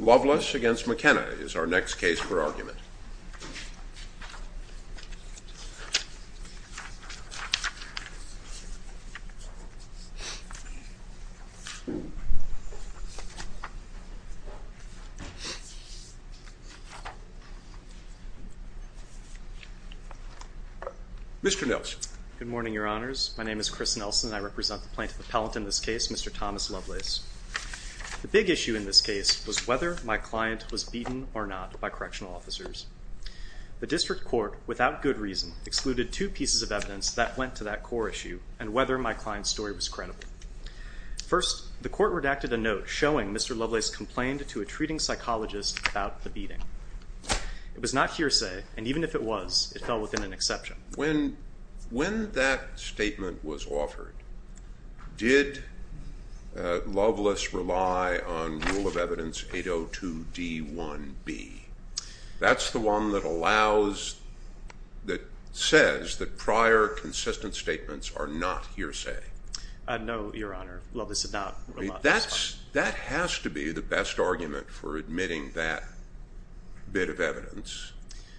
Lovelace v. McKenna is our next case for argument. Mr. Nelson. Good morning, Your Honors. My name is Chris Nelson and I represent the plaintiff appellant in this case, Mr. Thomas Lovelace. The big issue in this case was whether my client was beaten or not by correctional officers. The district court, without good reason, excluded two pieces of evidence that went to that core issue and whether my client's story was credible. First, the court redacted a note showing Mr. Lovelace complained to a treating psychologist about the beating. It was not hearsay and even if it was, it fell within an exception. When that statement was offered, did Lovelace rely on Rule of Evidence 802D1B? That's the one that allows, that says that prior consistent statements are not hearsay. No, Your Honor. Lovelace did not rely on that. That has to be the best argument for admitting that bit of evidence.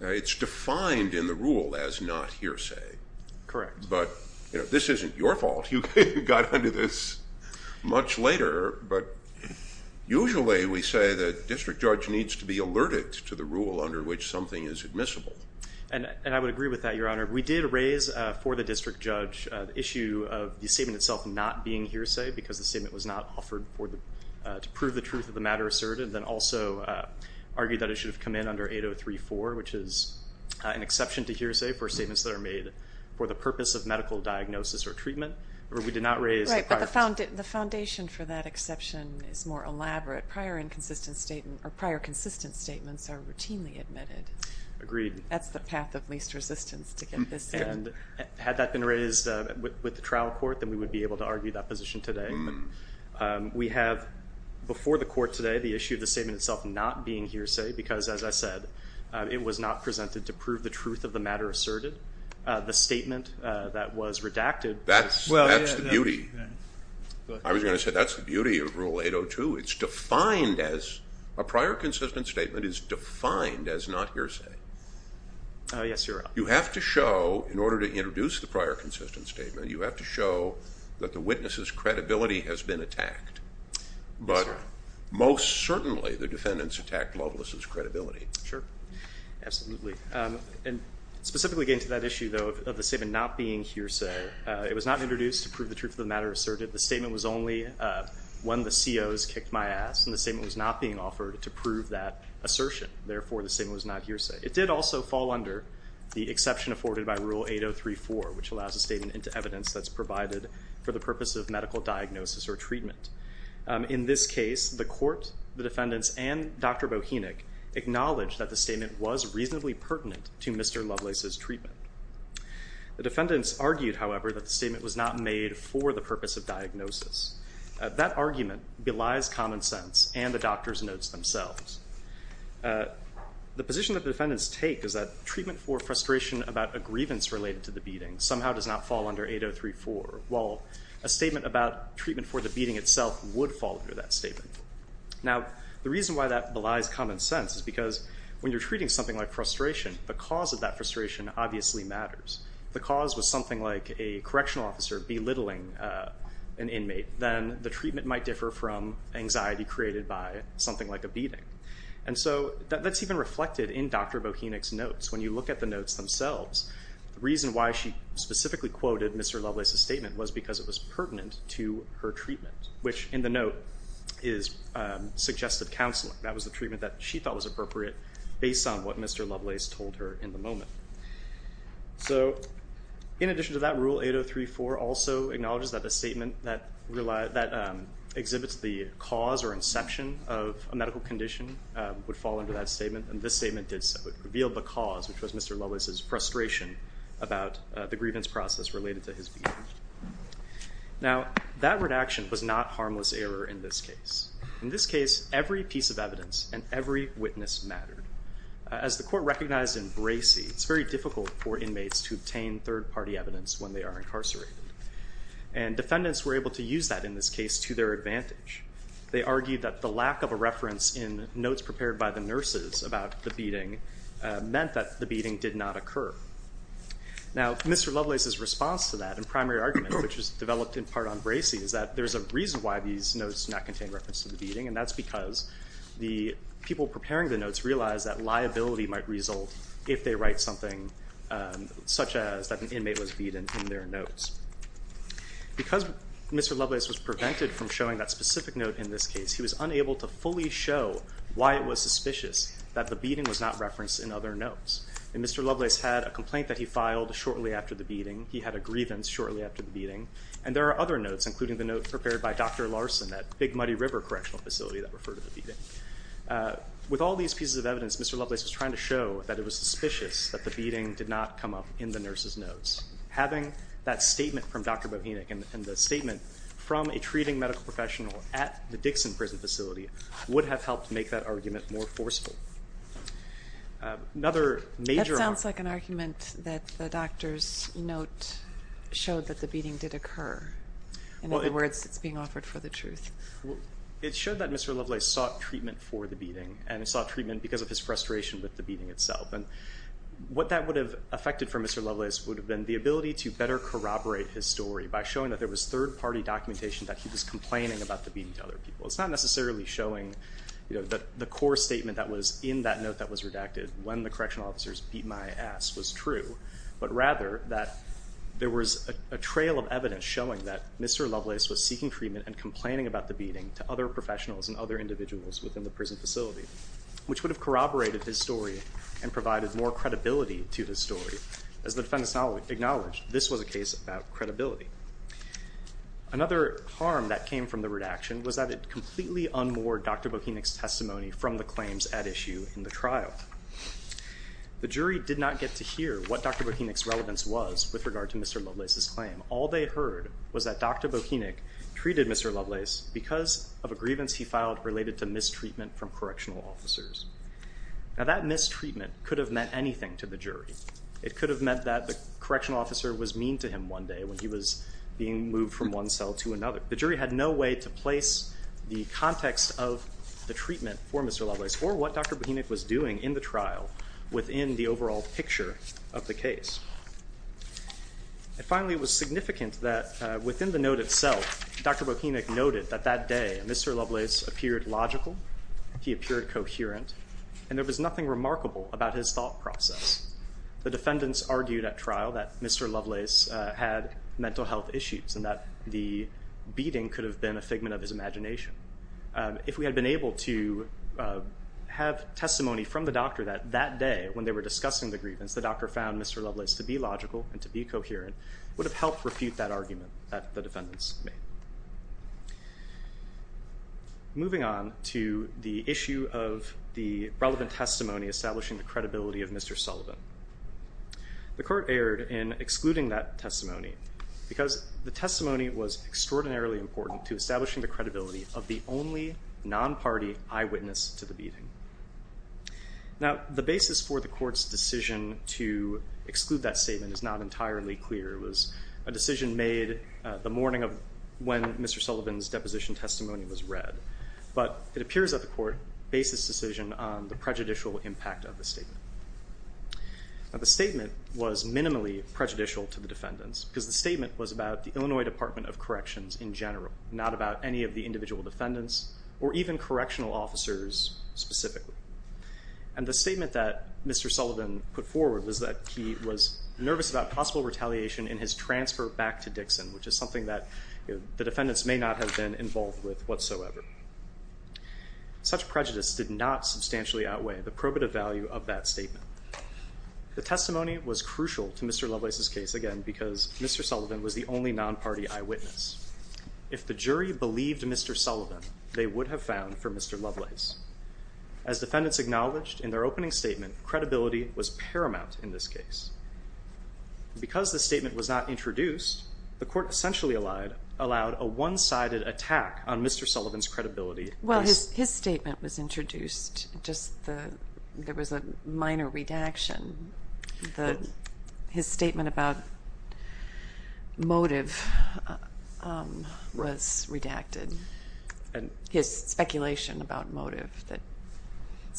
It's defined in the rule as not hearsay. Correct. But, you know, this isn't your fault. You got into this much later, but usually we say the district judge needs to be alerted to the rule under which something is admissible. And I would agree with that, Your Honor. We did raise for the district judge the issue of the statement itself not being hearsay because the statement was not offered to prove the truth of the matter asserted, and then we also argued that it should have come in under 803.4, which is an exception to hearsay for statements that are made for the purpose of medical diagnosis or treatment, or we did not raise the prior... Right, but the foundation for that exception is more elaborate. Prior inconsistent statement, or prior consistent statements are routinely admitted. Agreed. That's the path of least resistance to get this in. Had that been raised with the trial court, then we would be able to argue that position today. We have, before the court today, the issue of the statement itself not being hearsay because, as I said, it was not presented to prove the truth of the matter asserted. The statement that was redacted... That's the beauty. I was going to say, that's the beauty of Rule 802. It's defined as, a prior consistent statement is defined as not hearsay. Yes, Your Honor. You have to show, in order to introduce the prior consistent statement, you have to show that the witness's credibility has been attacked, but most certainly the defendant's attacked Loveless's credibility. Sure. Absolutely. And specifically getting to that issue, though, of the statement not being hearsay, it was not introduced to prove the truth of the matter asserted. The statement was only when the COs kicked my ass, and the statement was not being offered to prove that assertion, therefore the statement was not hearsay. It did also fall under the exception afforded by Rule 803.4, which allows a statement into evidence that's provided for the purpose of medical diagnosis or treatment. In this case, the court, the defendants, and Dr. Bohenik acknowledged that the statement was reasonably pertinent to Mr. Loveless's treatment. The defendants argued, however, that the statement was not made for the purpose of diagnosis. That argument belies common sense and the doctor's notes themselves. The position that the defendants take is that treatment for frustration about a grievance related to the beating somehow does not fall under 803.4, while a statement about treatment for the beating itself would fall under that statement. Now the reason why that belies common sense is because when you're treating something like frustration, the cause of that frustration obviously matters. The cause was something like a correctional officer belittling an inmate, then the treatment might differ from anxiety created by something like a beating. When you look at the notes themselves, the reason why she specifically quoted Mr. Loveless's statement was because it was pertinent to her treatment, which in the note is suggestive counseling. That was the treatment that she thought was appropriate based on what Mr. Loveless told her in the moment. So in addition to that, Rule 803.4 also acknowledges that a statement that exhibits the cause or inception of a medical condition would fall under that statement, and this statement did so. It revealed the cause, which was Mr. Loveless's frustration about the grievance process related to his beating. Now that redaction was not harmless error in this case. In this case, every piece of evidence and every witness mattered. As the court recognized in Bracey, it's very difficult for inmates to obtain third-party evidence when they are incarcerated. And defendants were able to use that in this case to their advantage. They argued that the lack of a reference in notes prepared by the nurses about the beating meant that the beating did not occur. Now Mr. Loveless's response to that in primary argument, which was developed in part on Bracey, is that there's a reason why these notes do not contain reference to the beating, and that's because the people preparing the notes realized that liability might result if they write something such as that an inmate was beaten in their notes. Because Mr. Loveless was prevented from showing that specific note in this case, he was unable to fully show why it was suspicious that the beating was not referenced in other notes. And Mr. Loveless had a complaint that he filed shortly after the beating. He had a grievance shortly after the beating. And there are other notes, including the note prepared by Dr. Larson at Big Muddy River Correctional Facility that referred to the beating. With all these pieces of evidence, Mr. Loveless was trying to show that it was suspicious that the beating did not come up in the nurses' notes. Having that statement from Dr. Bohenik and the statement from a treating medical professional at the Dixon Prison Facility would have helped make that argument more forceful. Another major argument- That sounds like an argument that the doctor's note showed that the beating did occur. In other words, it's being offered for the truth. It showed that Mr. Loveless sought treatment for the beating, and he sought treatment because of his frustration with the beating itself. And what that would have affected for Mr. Loveless would have been the ability to better corroborate his story by showing that there was third-party documentation that he was complaining about the beating to other people. It's not necessarily showing the core statement that was in that note that was redacted, when the correctional officers beat my ass, was true. But rather, that there was a trail of evidence showing that Mr. Loveless was seeking treatment and complaining about the beating to other professionals and other individuals within the prison facility, which would have corroborated his story and provided more credibility to his story. As the defendants acknowledged, this was a case about credibility. Another harm that came from the redaction was that it completely unmoored Dr. Bohenik's testimony from the claims at issue in the trial. The jury did not get to hear what Dr. Bohenik's relevance was with regard to Mr. Loveless's claim. All they heard was that Dr. Bohenik treated Mr. Loveless because of a grievance he filed related to mistreatment from correctional officers. Now, that mistreatment could have meant anything to the jury. It could have meant that the correctional officer was mean to him one day when he was being moved from one cell to another. The jury had no way to place the context of the treatment for Mr. Loveless or what Dr. Bohenik was doing in the trial within the overall picture of the case. And finally, it was significant that within the note itself, Dr. Bohenik noted that that day, Mr. Loveless appeared logical, he appeared coherent, and there was nothing remarkable about his thought process. The defendants argued at trial that Mr. Loveless had mental health issues and that the beating could have been a figment of his imagination. If we had been able to have testimony from the doctor that that day when they were discussing the grievance, the doctor found Mr. Loveless to be logical and to be coherent, it would have helped refute that argument that the defendants made. Moving on to the issue of the relevant testimony establishing the credibility of Mr. Sullivan. The court erred in excluding that testimony because the testimony was extraordinarily important to establishing the credibility of the only non-party eyewitness to the beating. Now, the basis for the court's decision to exclude that statement is not entirely clear. It was a decision made the morning of when Mr. Sullivan's deposition testimony was read. But it appears that the court based this decision on the prejudicial impact of the statement. The statement was minimally prejudicial to the defendants because the statement was about the Illinois Department of Corrections in general, not about any of the individual defendants or even correctional officers specifically. And the statement that Mr. Sullivan put forward was that he was nervous about possible retaliation in his transfer back to Dixon, which is something that the defendants may not have been involved with whatsoever. Such prejudice did not substantially outweigh the probative value of that statement. The testimony was crucial to Mr. Loveless's case, again, because Mr. Sullivan was the only non-party eyewitness. If the jury believed Mr. Sullivan, they would have found for Mr. Loveless. As defendants acknowledged in their opening statement, credibility was paramount in this case. And because the statement was not introduced, the court essentially allowed a one-sided attack on Mr. Sullivan's credibility. Well, his statement was introduced, just there was a minor redaction. His statement about motive was redacted. His speculation about motive, that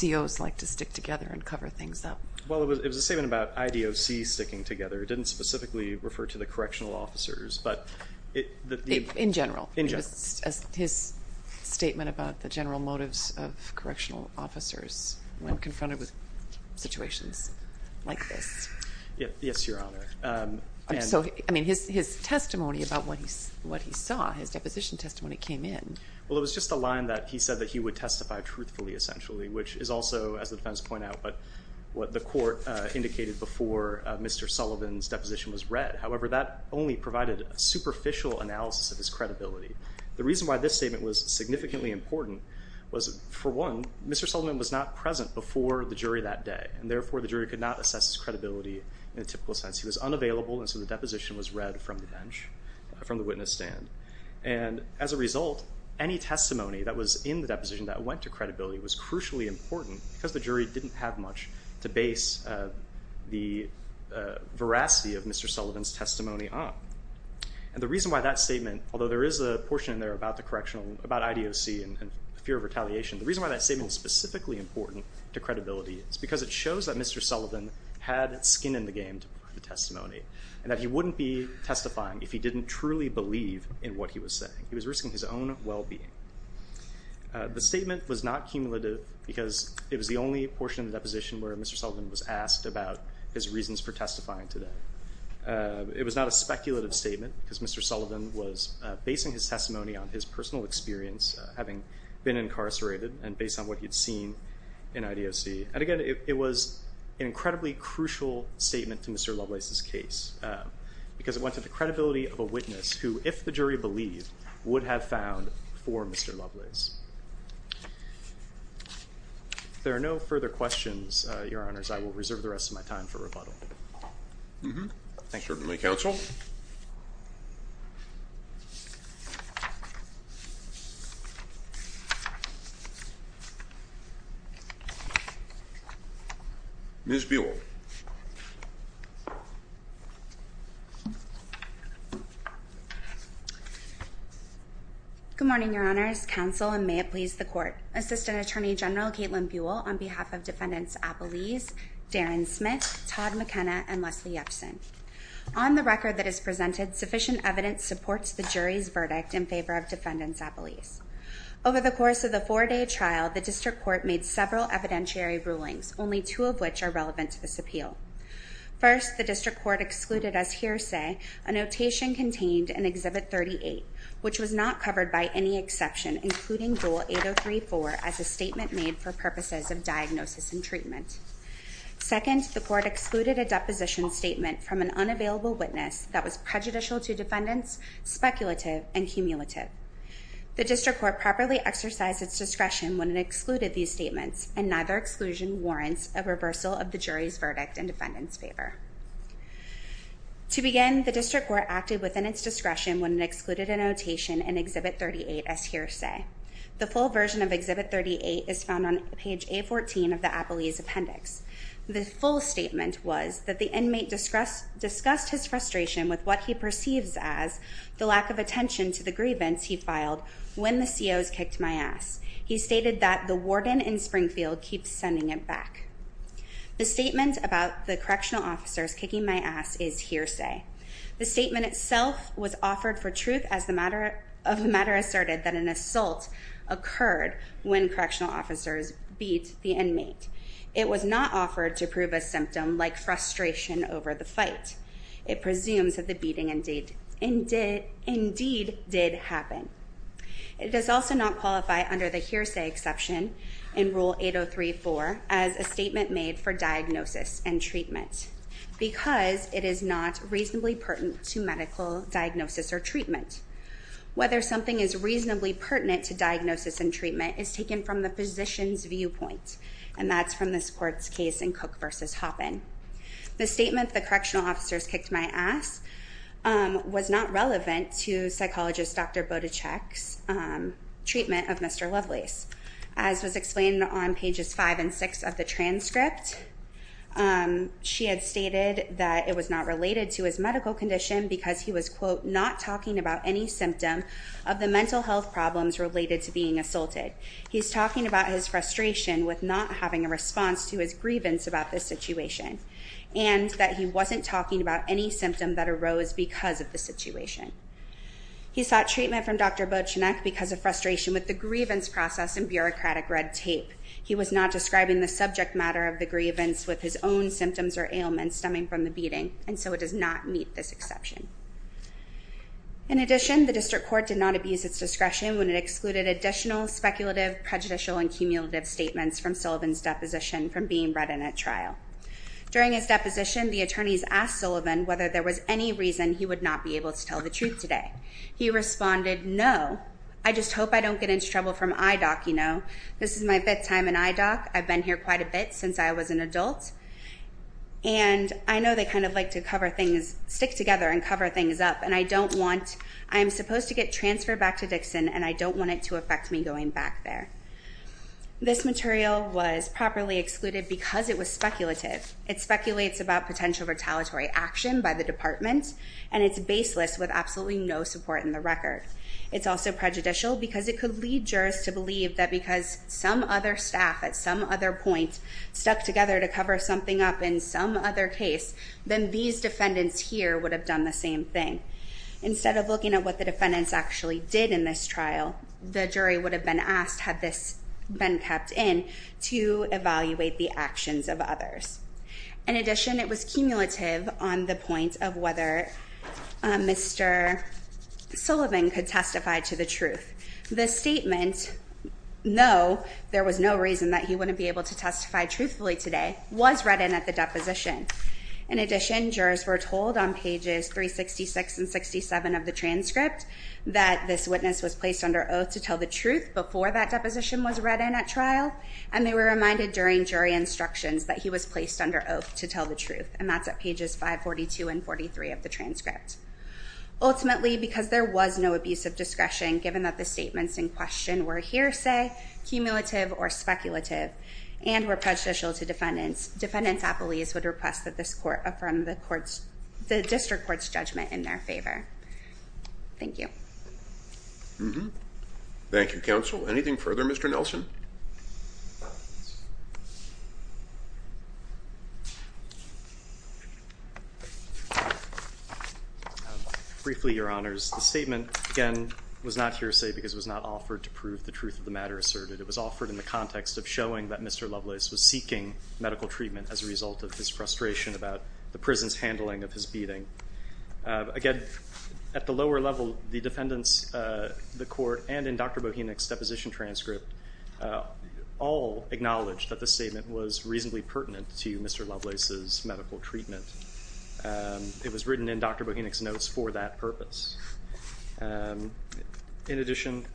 COs like to stick together and cover things up. Well, it was a statement about IDOC sticking together. It didn't specifically refer to the correctional officers. In general? In general. His statement about the general motives of correctional officers when confronted with situations like this. Yes, Your Honor. His testimony about what he saw, his deposition testimony came in. Credibility, which is also, as the defendants point out, what the court indicated before Mr. Sullivan's deposition was read. However, that only provided a superficial analysis of his credibility. The reason why this statement was significantly important was, for one, Mr. Sullivan was not present before the jury that day, and therefore, the jury could not assess his credibility in a typical sense. He was unavailable, and so the deposition was read from the bench, from the witness stand. And as a result, any testimony that was in the deposition that went to credibility was crucially important, because the jury didn't have much to base the veracity of Mr. Sullivan's testimony on. And the reason why that statement, although there is a portion in there about the correctional, about IDOC and fear of retaliation, the reason why that statement is specifically important to credibility is because it shows that Mr. Sullivan had skin in the game to provide the testimony, and that he wouldn't be testifying if he didn't truly believe in what he was saying. He was risking his own well-being. The statement was not cumulative, because it was the only portion of the deposition where Mr. Sullivan was asked about his reasons for testifying today. It was not a speculative statement, because Mr. Sullivan was basing his testimony on his personal experience, having been incarcerated, and based on what he had seen in IDOC. And again, it was an incredibly crucial statement to Mr. Lovelace's case, because it went to the credibility of a witness, who, if the jury believed, would have found for Mr. Lovelace. If there are no further questions, Your Honors, I will reserve the rest of my time for rebuttal. Thank you. Certainly, counsel. Ms. Buell. Good morning, Your Honors, counsel, and may it please the Court. Assistant Attorney General Kaitlin Buell, on behalf of Defendants Appelese, Darren Smith, Todd McKenna, and Leslie Epson. On the record that is presented, sufficient evidence supports the jury's verdict in favor of Defendants Appelese. Over the course of the four-day trial, the District Court made several evidentiary rulings, only two of which are relevant to this appeal. First, the District Court excluded as hearsay a notation contained in Exhibit 38, which was not covered by any exception, including Rule 8034 as a statement made for purposes of diagnosis and treatment. Second, the Court excluded a deposition statement from an unavailable witness that was prejudicial to defendants, speculative, and cumulative. And neither exclusion warrants a reversal of the jury's verdict in defendants' favor. To begin, the District Court acted within its discretion when it excluded a notation in Exhibit 38 as hearsay. The full version of Exhibit 38 is found on page A14 of the Appelese Appendix. The full statement was that the inmate discussed his frustration with what he perceives as the lack of attention to the grievance he filed when the COs kicked my ass. He stated that the warden in Springfield keeps sending him back. The statement about the correctional officers kicking my ass is hearsay. The statement itself was offered for truth as the matter asserted that an assault occurred when correctional officers beat the inmate. It was not offered to prove a symptom like frustration over the fight. It presumes that the beating indeed did happen. It does also not qualify under the hearsay exception in Rule 803.4 as a statement made for diagnosis and treatment because it is not reasonably pertinent to medical diagnosis or treatment. Whether something is reasonably pertinent to diagnosis and treatment is taken from the physician's viewpoint, and that's from this court's case in Cook v. Hoppen. The statement, the correctional officers kicked my ass, was not relevant to psychologist Dr. Botachek's treatment of Mr. Lovelace. As was explained on pages 5 and 6 of the transcript, she had stated that it was not related to his medical condition because he was, quote, not talking about any symptom of the mental health problems related to being assaulted. He's talking about his frustration with not having a response to his grievance about this situation and that he wasn't talking about any symptom that arose because of the situation. He sought treatment from Dr. Botachek because of frustration with the grievance process and bureaucratic red tape. He was not describing the subject matter of the grievance with his own symptoms or ailments stemming from the beating, and so it does not meet this exception. In addition, the district court did not abuse its discretion when it excluded additional speculative, prejudicial, and cumulative statements from Sullivan's deposition from being read in at trial. During his deposition, the attorneys asked Sullivan whether there was any reason he would not be able to tell the truth today. He responded, no, I just hope I don't get into trouble from IDOC, you know. This is my fifth time in IDOC. I've been here quite a bit since I was an adult, and I know they kind of like to cover things, stick together and cover things up, and I don't want, I'm supposed to get transferred back to Dixon, and I don't want it to affect me going back there. This material was properly excluded because it was speculative. It speculates about potential retaliatory action by the department, and it's baseless with absolutely no support in the record. It's also prejudicial because it could lead jurors to believe that because some other staff at some other point stuck together to cover something up in some other case, then these defendants here would have done the same thing. Instead of looking at what the defendants actually did in this trial, the jury would have been asked had this been kept in to evaluate the actions of others. In addition, it was cumulative on the point of whether Mr. Sullivan could testify to the truth. The statement, no, there was no reason that he wouldn't be able to testify truthfully today was read in at the deposition. In addition, jurors were told on pages 366 and 67 of the transcript that this witness was placed under oath to tell the truth before that deposition was read in at trial, and they were reminded during jury instructions that he was placed under oath to tell the truth, and that's at pages 542 and 43 of the transcript. Ultimately, because there was no abusive discretion, given that the statements in question were hearsay, cumulative, or speculative, and were prejudicial to defendants, defendants at police would request that this court affirm the district court's judgment in their favor. Thank you. Mm-hmm. Thank you, counsel. Anything further? Mr. Nelson? Briefly, Your Honors, the statement, again, was not hearsay because it was not offered to prove the truth of the matter asserted. It was offered in the context of showing that Mr. Lovelace was seeking medical treatment as a result of his frustration about the prison's handling of his beating. Again, at the lower level, the defendants, the court, and in Dr. Bohenik's deposition transcript all acknowledged that the statement was reasonably pertinent to Mr. Lovelace's medical treatment. It was written in Dr. Bohenik's notes for that purpose. In addition,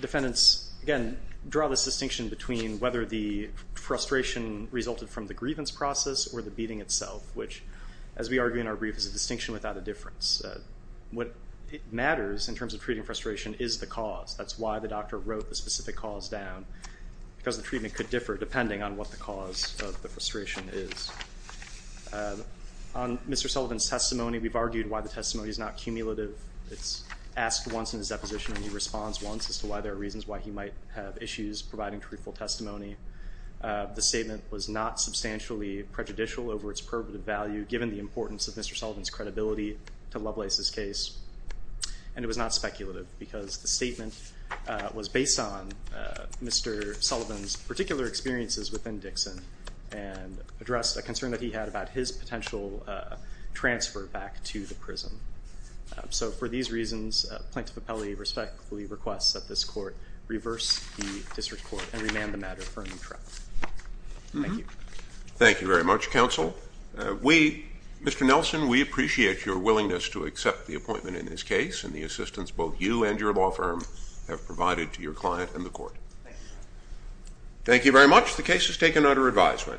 defendants, again, draw this distinction between whether the frustration resulted from the grievance process or the beating itself, which, as we argue in our brief, is a distinction without a difference. What matters in terms of treating frustration is the cause. That's why the doctor wrote the specific cause down, because the treatment could differ depending on what the cause of the frustration is. On Mr. Sullivan's testimony, we've argued why the testimony is not cumulative. It's asked once in his deposition, and he responds once as to why there are reasons why he might have issues providing truthful testimony. The statement was not substantially prejudicial over its probative value, given the importance of Mr. Sullivan's credibility to Lovelace's case, and it was not speculative, because the statement was based on Mr. Sullivan's particular experiences within Dixon and addressed a concern that he had about his potential transfer back to the prison. So for these reasons, Plaintiff Appellee respectfully requests that this court reverse the district court and remand the matter for a new trial. Thank you. Thank you very much, counsel. We, Mr. Nelson, we appreciate your willingness to accept the appointment in this case and the assistance both you and your law firm have provided to your client and the court. Thank you very much. The case is taken under advisement.